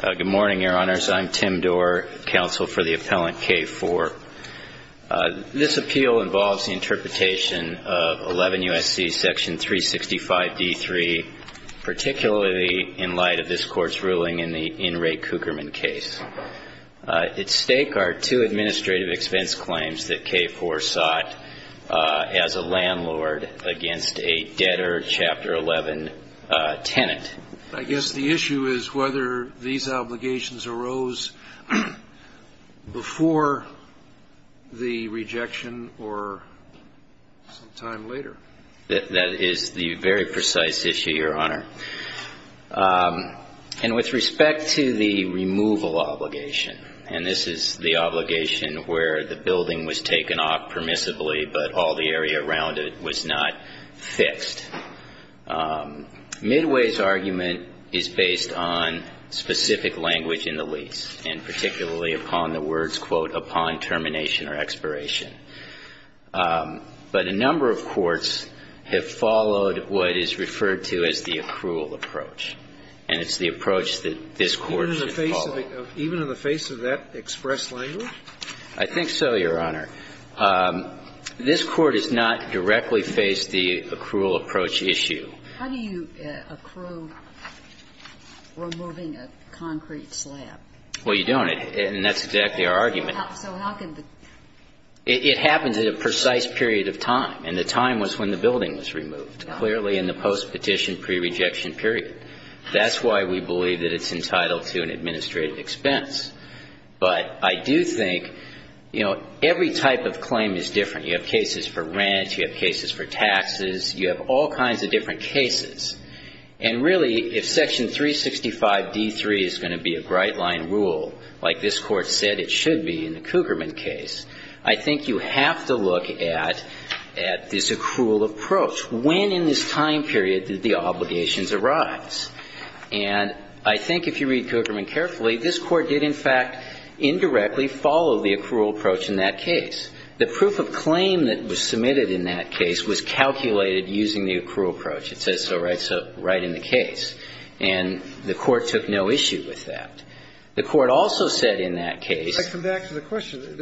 Good morning, Your Honors. I'm Tim Dorr, counsel for the appellant K-4. This appeal involves the interpretation of 11 U.S.C. section 365-d3, particularly in light of this Court's ruling in the In Re Cougarman case. At stake are two administrative expense claims that K-4 sought as a landlord against a debtor Chapter 11 tenant. I guess the issue is whether these obligations arose before the rejection or some time later. That is the very precise issue, Your Honor. And with respect to the removal obligation, and this is the obligation where the building was taken off permissibly but all the area around it was not fixed, Midway's argument is based on specific language in the lease, and particularly upon the words, quote, upon termination or expiration. But a number of courts have followed what is referred to as the accrual approach, and it's the approach that this Court should follow. Even in the face of that expressed language? I think so, Your Honor. This Court has not directly faced the accrual approach issue. How do you accrue removing a concrete slab? Well, you don't, and that's exactly our argument. So how can the ---- It happens at a precise period of time, and the time was when the building was removed, clearly in the postpetition prerejection period. That's why we believe that it's entitled to an administrative expense. But I do think, you know, every type of claim is different. You have cases for rent. You have cases for taxes. You have all kinds of different cases. And really, if Section 365d3 is going to be a bright-line rule, like this Court said it should be in the Cougarman case, I think you have to look at this accrual approach, when in this time period did the obligations arise. And I think if you read Cougarman carefully, this Court did, in fact, indirectly follow the accrual approach in that case. The proof of claim that was submitted in that case was calculated using the accrual approach. It says so right in the case, and the Court took no issue with that. The Court also said in that case ----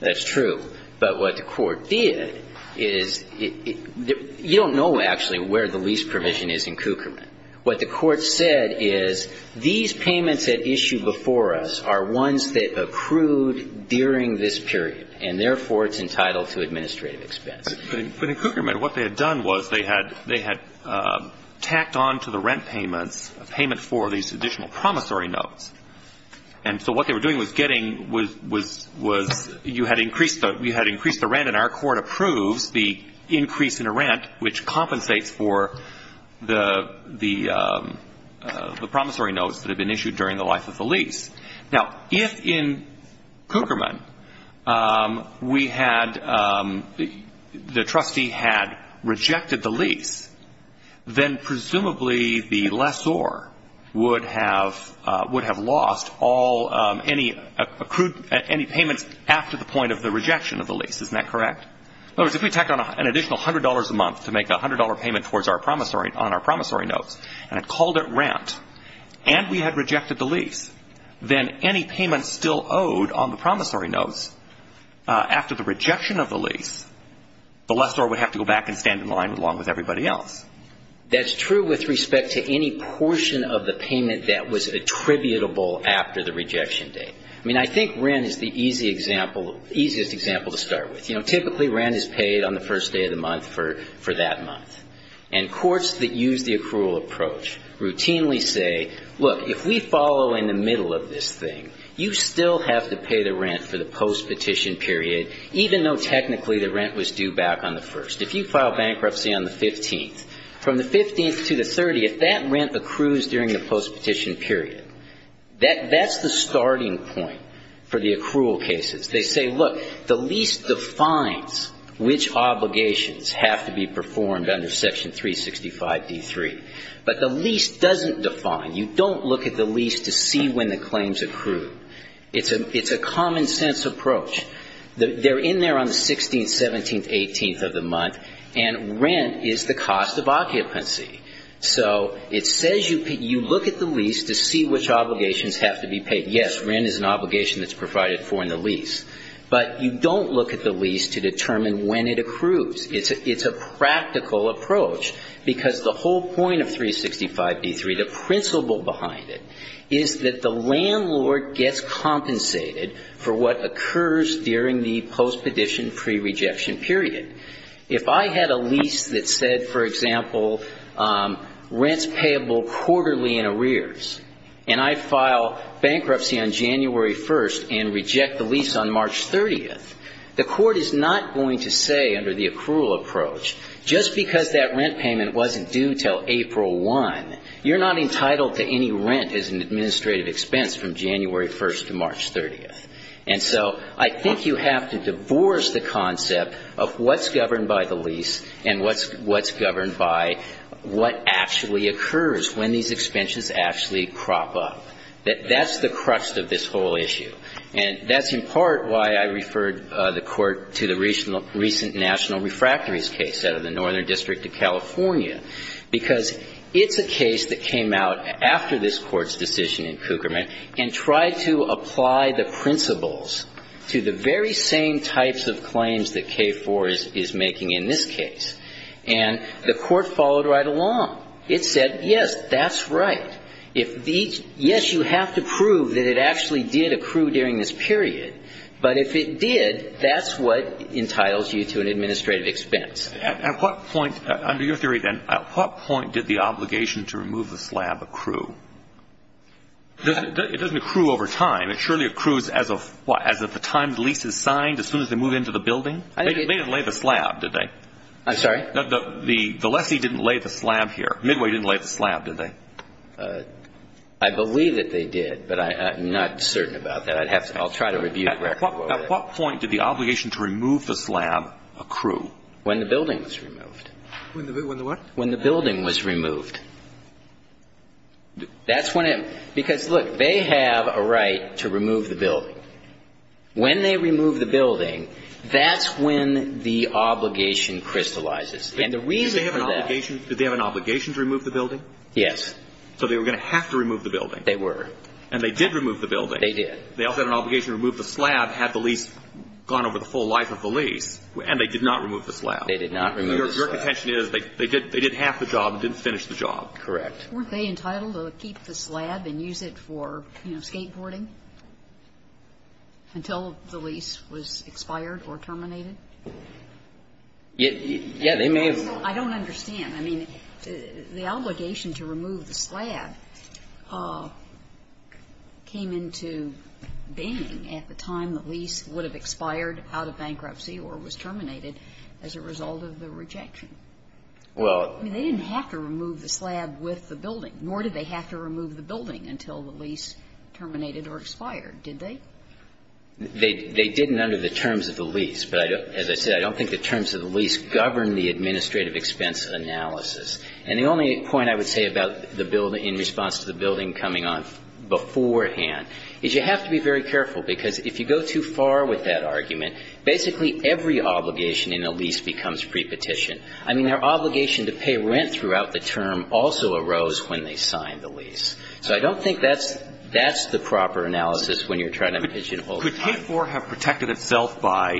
That's true. But what the Court did is you don't know, actually, where the lease permission is in Cougarman. What the Court said is these payments at issue before us are ones that accrued during this period, and therefore, it's entitled to administrative expense. But in Cougarman, what they had done was they had tacked on to the rent payment for these additional promissory notes. And so what they were doing was getting ---- you had increased the rent, and our Court approves the increase in the rent, which compensates for the promissory notes that had been issued during the life of the lease. Now, if in Cougarman we had ---- the trustee had rejected the lease, then presumably the lessor would have lost all any accrued ---- any payments after the point of the rejection of the lease. Isn't that correct? In other words, if we tacked on an additional $100 a month to make a $100 payment towards our promissory ---- on our promissory notes, and had called it rent, and we had rejected the lease, then any payments still owed on the promissory notes after the rejection of the lease, the lessor would have to go back and stand in line along with everybody else. That's true with respect to any portion of the payment that was attributable after the rejection date. I mean, I think rent is the easy example ---- easiest example to start with. You know, typically rent is paid on the first day of the month for that month. And courts that use the accrual approach routinely say, look, if we follow in the middle of this thing, you still have to pay the rent for the post-petition period, even though technically the rent was due back on the first. If you file bankruptcy on the 15th, from the 15th to the 30th, that rent accrues during the post-petition period. That's the starting point for the accrual cases. They say, look, the lease defines which obligations have to be performed under Section 365d3. But the lease doesn't define. You don't look at the lease to see when the claims accrue. It's a common-sense approach. They're in there on the 16th, 17th, 18th of the month, and rent is the cost of occupancy. So it says you look at the lease to see which obligations have to be paid. Yes, rent is an obligation that's provided for in the lease. But you don't look at the lease to determine when it accrues. It's a practical approach, because the whole point of 365d3, the principle behind it, is that the landlord gets compensated for what occurs during the post-petition pre-rejection period. If I had a lease that said, for example, rent's payable quarterly in arrears, and I file bankruptcy on January 1st and reject the lease on March 30th, the court is not going to say under the accrual approach, just because that rent payment wasn't due until April 1, you're not entitled to any rent as an administrative expense from January 1st to March 30th. And so I think you have to divorce the concept of what's governed by the lease and what's governed by what actually occurs when these expenses actually crop up. That's the crux of this whole issue. And that's in part why I referred the Court to the recent national refractories case out of the Northern District of California, because it's a case that came out after this Court's decision in Kuckerman and tried to apply the principles to the very same types of claims that K-4 is making in this case. And the Court followed right along. It said, yes, that's right. Yes, you have to prove that it actually did accrue during this period, but if it did, that's what entitles you to an administrative expense. At what point, under your theory, then, at what point did the obligation to remove the slab accrue? It doesn't accrue over time. It surely accrues as of the time the lease is signed, as soon as they move into the building. They didn't lay the slab, did they? I'm sorry? The lessee didn't lay the slab here. Midway didn't lay the slab, did they? I'll try to review the record. At what point did the obligation to remove the slab accrue? When the building was removed. When the what? When the building was removed. That's when it – because, look, they have a right to remove the building. When they remove the building, that's when the obligation crystallizes. And the reason that – Did they have an obligation to remove the building? Yes. So they were going to have to remove the building. They were. And they did remove the building. They did. They also had an obligation to remove the slab had the lease gone over the full life of the lease. And they did not remove the slab. They did not remove the slab. Your contention is they did half the job and didn't finish the job. Correct. Weren't they entitled to keep the slab and use it for, you know, skateboarding until the lease was expired or terminated? Yeah. They may have. I don't understand. I mean, the obligation to remove the slab came into being at the time the lease would have expired out of bankruptcy or was terminated as a result of the rejection. Well – I mean, they didn't have to remove the slab with the building, nor did they have to remove the building until the lease terminated or expired, did they? They didn't under the terms of the lease. But as I said, I don't think the terms of the lease govern the administrative expense analysis. And the only point I would say about the building, in response to the building coming on beforehand, is you have to be very careful, because if you go too far with that argument, basically every obligation in a lease becomes prepetition. I mean, their obligation to pay rent throughout the term also arose when they signed the lease. So I don't think that's the proper analysis when you're trying to pigeonhole a client. Could the building therefore have protected itself by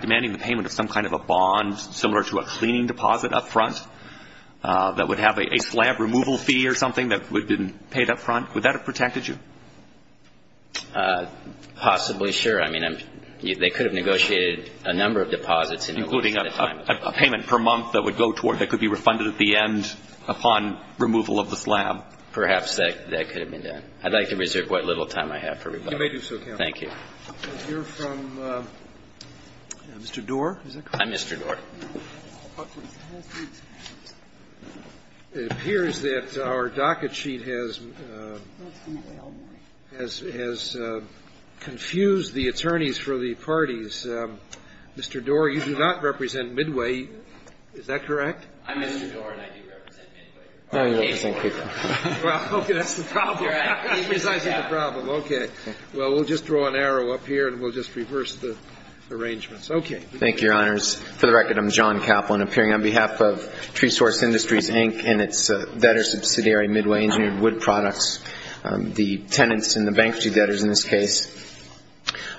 demanding the payment of some kind of a bond, similar to a cleaning deposit up front, that would have a slab removal fee or something that would have been paid up front? Would that have protected you? Possibly, sure. I mean, they could have negotiated a number of deposits in order to get the time required. Including a payment per month that would go toward – that could be refunded at the end upon removal of the slab. Perhaps that could have been done. I'd like to reserve what little time I have for rebuttal. You may do so, counsel. Thank you. We'll hear from Mr. Doar. I'm Mr. Doar. It appears that our docket sheet has confused the attorneys for the parties. Mr. Doar, you do not represent Midway. Is that correct? I'm Mr. Doar and I do represent Midway. Well, okay. That's the problem. That's precisely the problem. Okay. Well, we'll just draw an arrow up here and we'll just reverse the arrangements. Okay. Thank you, Your Honors. For the record, I'm John Kaplan, appearing on behalf of TreeSource Industries, Inc., and its debtor subsidiary, Midway Engineered Wood Products, the tenants and the bankruptcy debtors in this case.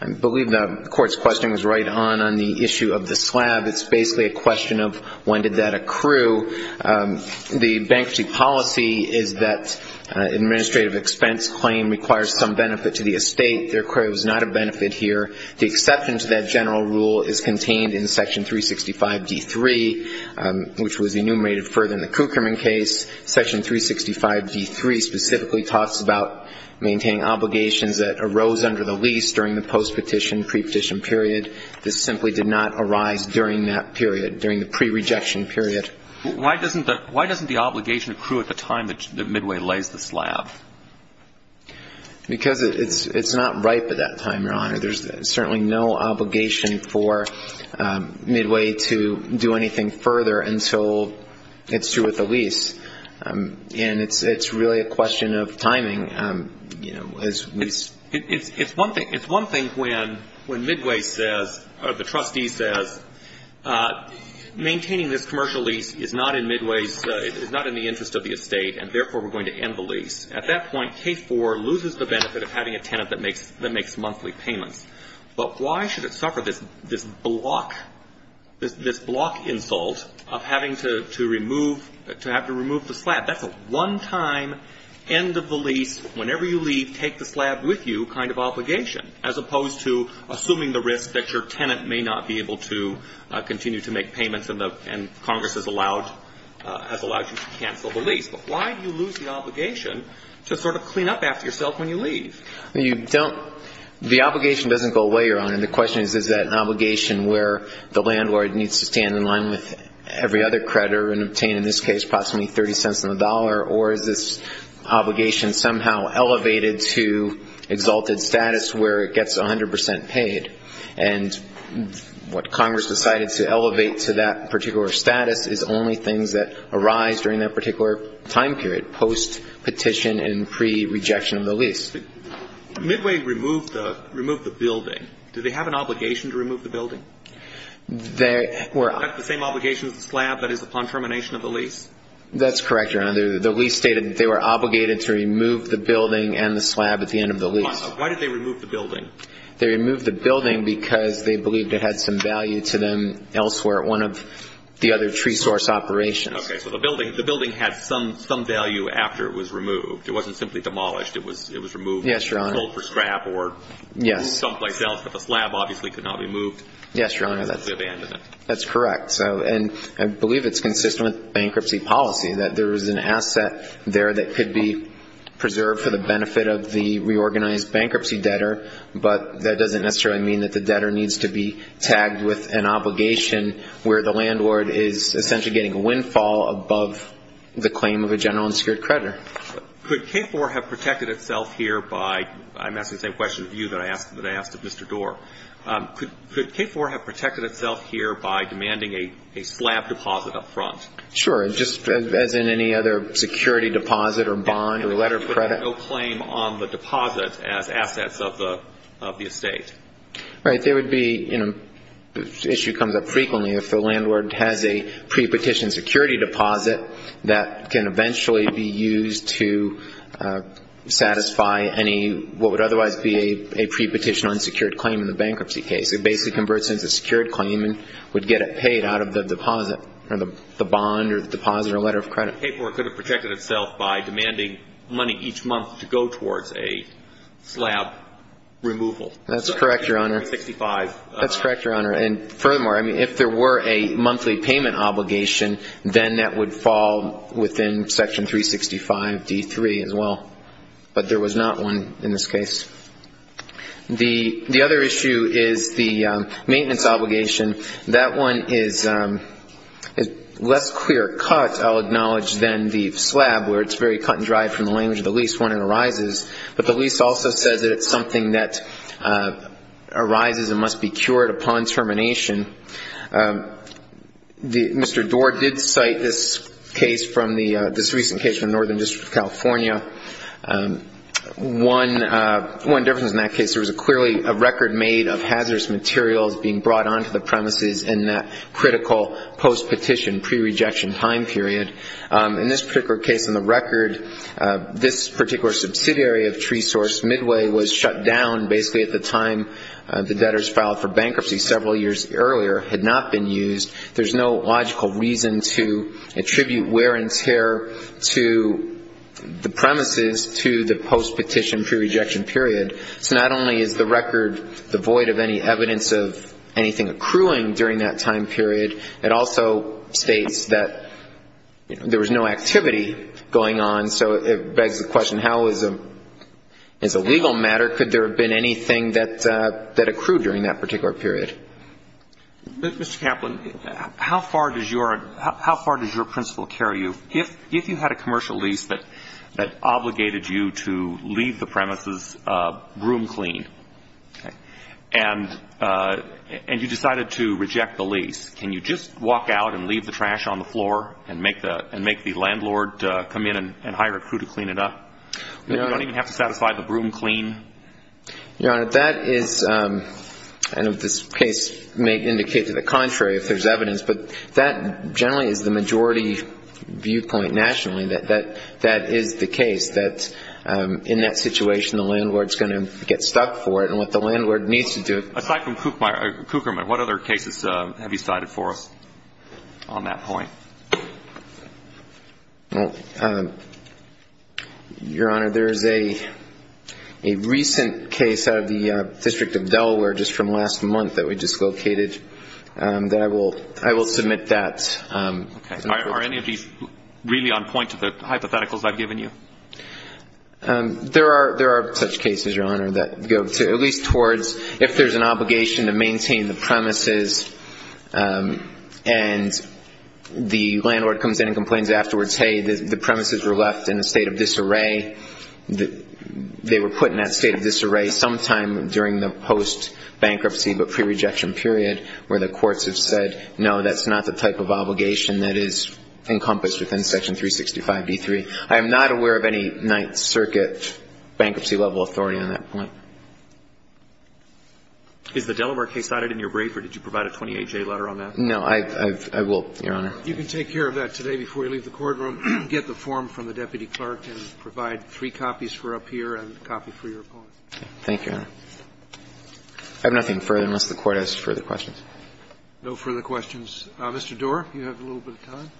I believe the Court's question was right on on the issue of the slab. It's basically a question of when did that accrue. The bankruptcy policy is that an administrative expense claim requires some benefit to the estate. There was not a benefit here. The exception to that general rule is contained in Section 365d3, which was enumerated further in the Kuckerman case. Section 365d3 specifically talks about maintaining obligations that arose under the lease during the post-petition, pre-petition period. This simply did not arise during that period, during the pre-rejection period. Why doesn't the obligation accrue at the time that Midway lays the slab? Because it's not ripe at that time, Your Honor. There's certainly no obligation for Midway to do anything further until it's through with the lease. And it's really a question of timing. It's one thing when Midway says, or the trustee says, maintaining this commercial lease is not in Midway's, is not in the interest of the estate, and therefore we're going to end the lease. At that point, Case 4 loses the benefit of having a tenant that makes monthly payments. But why should it suffer this block, this block insult of having to remove, to have to remove the slab? That's a one-time, end of the lease, whenever you leave, take the slab with you kind of obligation, as opposed to assuming the risk that your tenant may not be able to continue to make payments and Congress has allowed you to cancel the lease. But why do you lose the obligation to sort of clean up after yourself when you leave? The obligation doesn't go away, Your Honor. The question is, is that an obligation where the landlord needs to stand in line with every other creditor and obtain, in this case, approximately 30 cents on the dollar, or is this obligation somehow elevated to exalted status where it gets 100 percent paid? And what Congress decided to elevate to that particular status is only things that arise during that particular time period, post-petition and pre-rejection of the lease. Midway removed the building. Do they have an obligation to remove the building? That's the same obligation as the slab that is upon termination of the lease? That's correct, Your Honor. The lease stated they were obligated to remove the building and the slab at the end of the lease. Why did they remove the building? They removed the building because they believed it had some value to them elsewhere at one of the other tree source operations. Okay. So the building had some value after it was removed. It wasn't simply demolished. It was removed and sold for scrap or someplace else, but the slab obviously could not be moved. Yes, Your Honor, that's correct. And I believe it's consistent with bankruptcy policy, that there is an asset there that could be preserved for the benefit of the reorganized bankruptcy debtor, but that doesn't necessarily mean that the debtor needs to be tagged with an obligation where the landlord is essentially getting a windfall above the claim of a general and secured creditor. Could K-4 have protected itself here by, I'm asking the same question to you that I asked of Mr. Doar, could K-4 have protected itself here by demanding a slab deposit up front? Sure, just as in any other security deposit or bond or letter of credit. No claim on the deposit as assets of the estate. Right. There would be, you know, the issue comes up frequently. If the landlord has a pre-petition security deposit that can eventually be used to satisfy any, what would otherwise be a pre-petition unsecured claim in the bankruptcy case. It basically converts into a secured claim and would get it paid out of the deposit or the bond or deposit or letter of credit. K-4 could have protected itself by demanding money each month to go towards a slab removal. That's correct, Your Honor. Section 365. That's correct, Your Honor. And furthermore, I mean, if there were a monthly payment obligation, then that would fall within Section 365 D-3 as well. But there was not one in this case. The other issue is the maintenance obligation. That one is less clear cut, I'll acknowledge, than the slab, where it's very cut and dry from the language of the lease when it arises. But the lease also says that it's something that arises and must be cured upon termination. Mr. Doar did cite this case from the ñ this recent case from the Northern District of California. One difference in that case, there was clearly a record made of hazardous materials being brought onto the premises in that critical post-petition pre-rejection time period. In this particular case in the record, this particular subsidiary of TreeSource, Midway, was shut down basically at the time the debtors filed for bankruptcy several years earlier, had not been used. There's no logical reason to attribute wear and tear to the premises to the post-petition pre-rejection period. So not only is the record devoid of any evidence of anything accruing during that time period, it also states that there was no activity going on. So it begs the question, how is a ñ is a legal matter, could there have been anything that accrued during that particular period? Mr. Kaplan, how far does your principle carry you? If you had a commercial lease that obligated you to leave the premises room clean, okay, and you decided to reject the lease, can you just walk out and leave the trash on the floor and make the landlord come in and hire a crew to clean it up? You don't even have to satisfy the broom clean? Your Honor, that is ñ and this case may indicate to the contrary if there's evidence, but that generally is the majority viewpoint nationally, that that is the case, that in that situation the landlord's going to get stuck for it and what the landlord needs to do ñ Aside from Kuckermann, what other cases have you cited for us on that point? Well, Your Honor, there is a recent case out of the District of Delaware just from last month that we just located that I will ñ I will submit that. Okay. Are any of these really on point to the hypotheticals I've given you? There are such cases, Your Honor, that go to at least towards if there's an obligation to maintain the premises and the landlord comes in and complains afterwards, hey, the premises were left in a state of disarray, they were put in that state of disarray sometime during the post-bankruptcy but pre-rejection period where the courts have said, no, that's not the type of obligation that is encompassed within Section 365d3. I am not aware of any Ninth Circuit bankruptcy-level authority on that point. Is the Delaware case cited in your brief or did you provide a 28-J letter on that? No. I've ñ I will, Your Honor. You can take care of that today before you leave the courtroom, get the form from the Deputy Clerk and provide three copies for up here and a copy for your opponent. Thank you, Your Honor. I have nothing further unless the Court has further questions. No further questions. Mr. Doar, you have a little bit of time.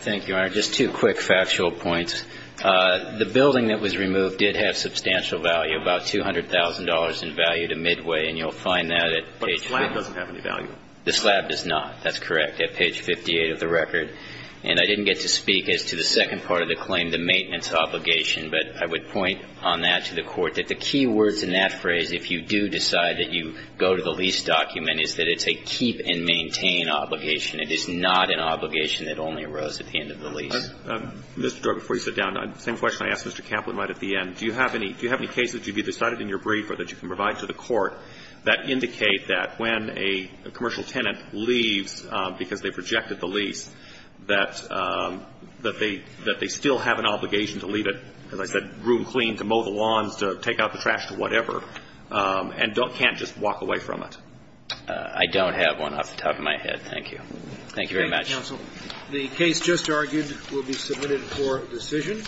Thank you, Your Honor. Just two quick factual points. The building that was removed did have substantial value, about $200,000 in value to Midway, and you'll find that at page ñ But the slab doesn't have any value. The slab does not. That's correct, at page 58 of the record. And I didn't get to speak as to the second part of the claim, the maintenance obligation, but I would point on that to the Court that the key words in that phrase, if you do decide that you go to the lease document, is that it's a keep-and-maintain obligation. It is not an obligation that only arose at the end of the lease. Mr. Doar, before you sit down, same question I asked Mr. Campbell right at the end. Do you have any ñ do you have any cases to be decided in your brief or that you can provide to the Court that indicate that when a commercial tenant leaves because they've rejected the lease, that they ñ that they still have an obligation to leave it, as I said, room clean, to mow the lawns, to take out the trash, to whatever, and can't just walk away from it? I don't have one off the top of my head. Thank you. Thank you very much. Thank you, counsel. The case just argued will be submitted for decision.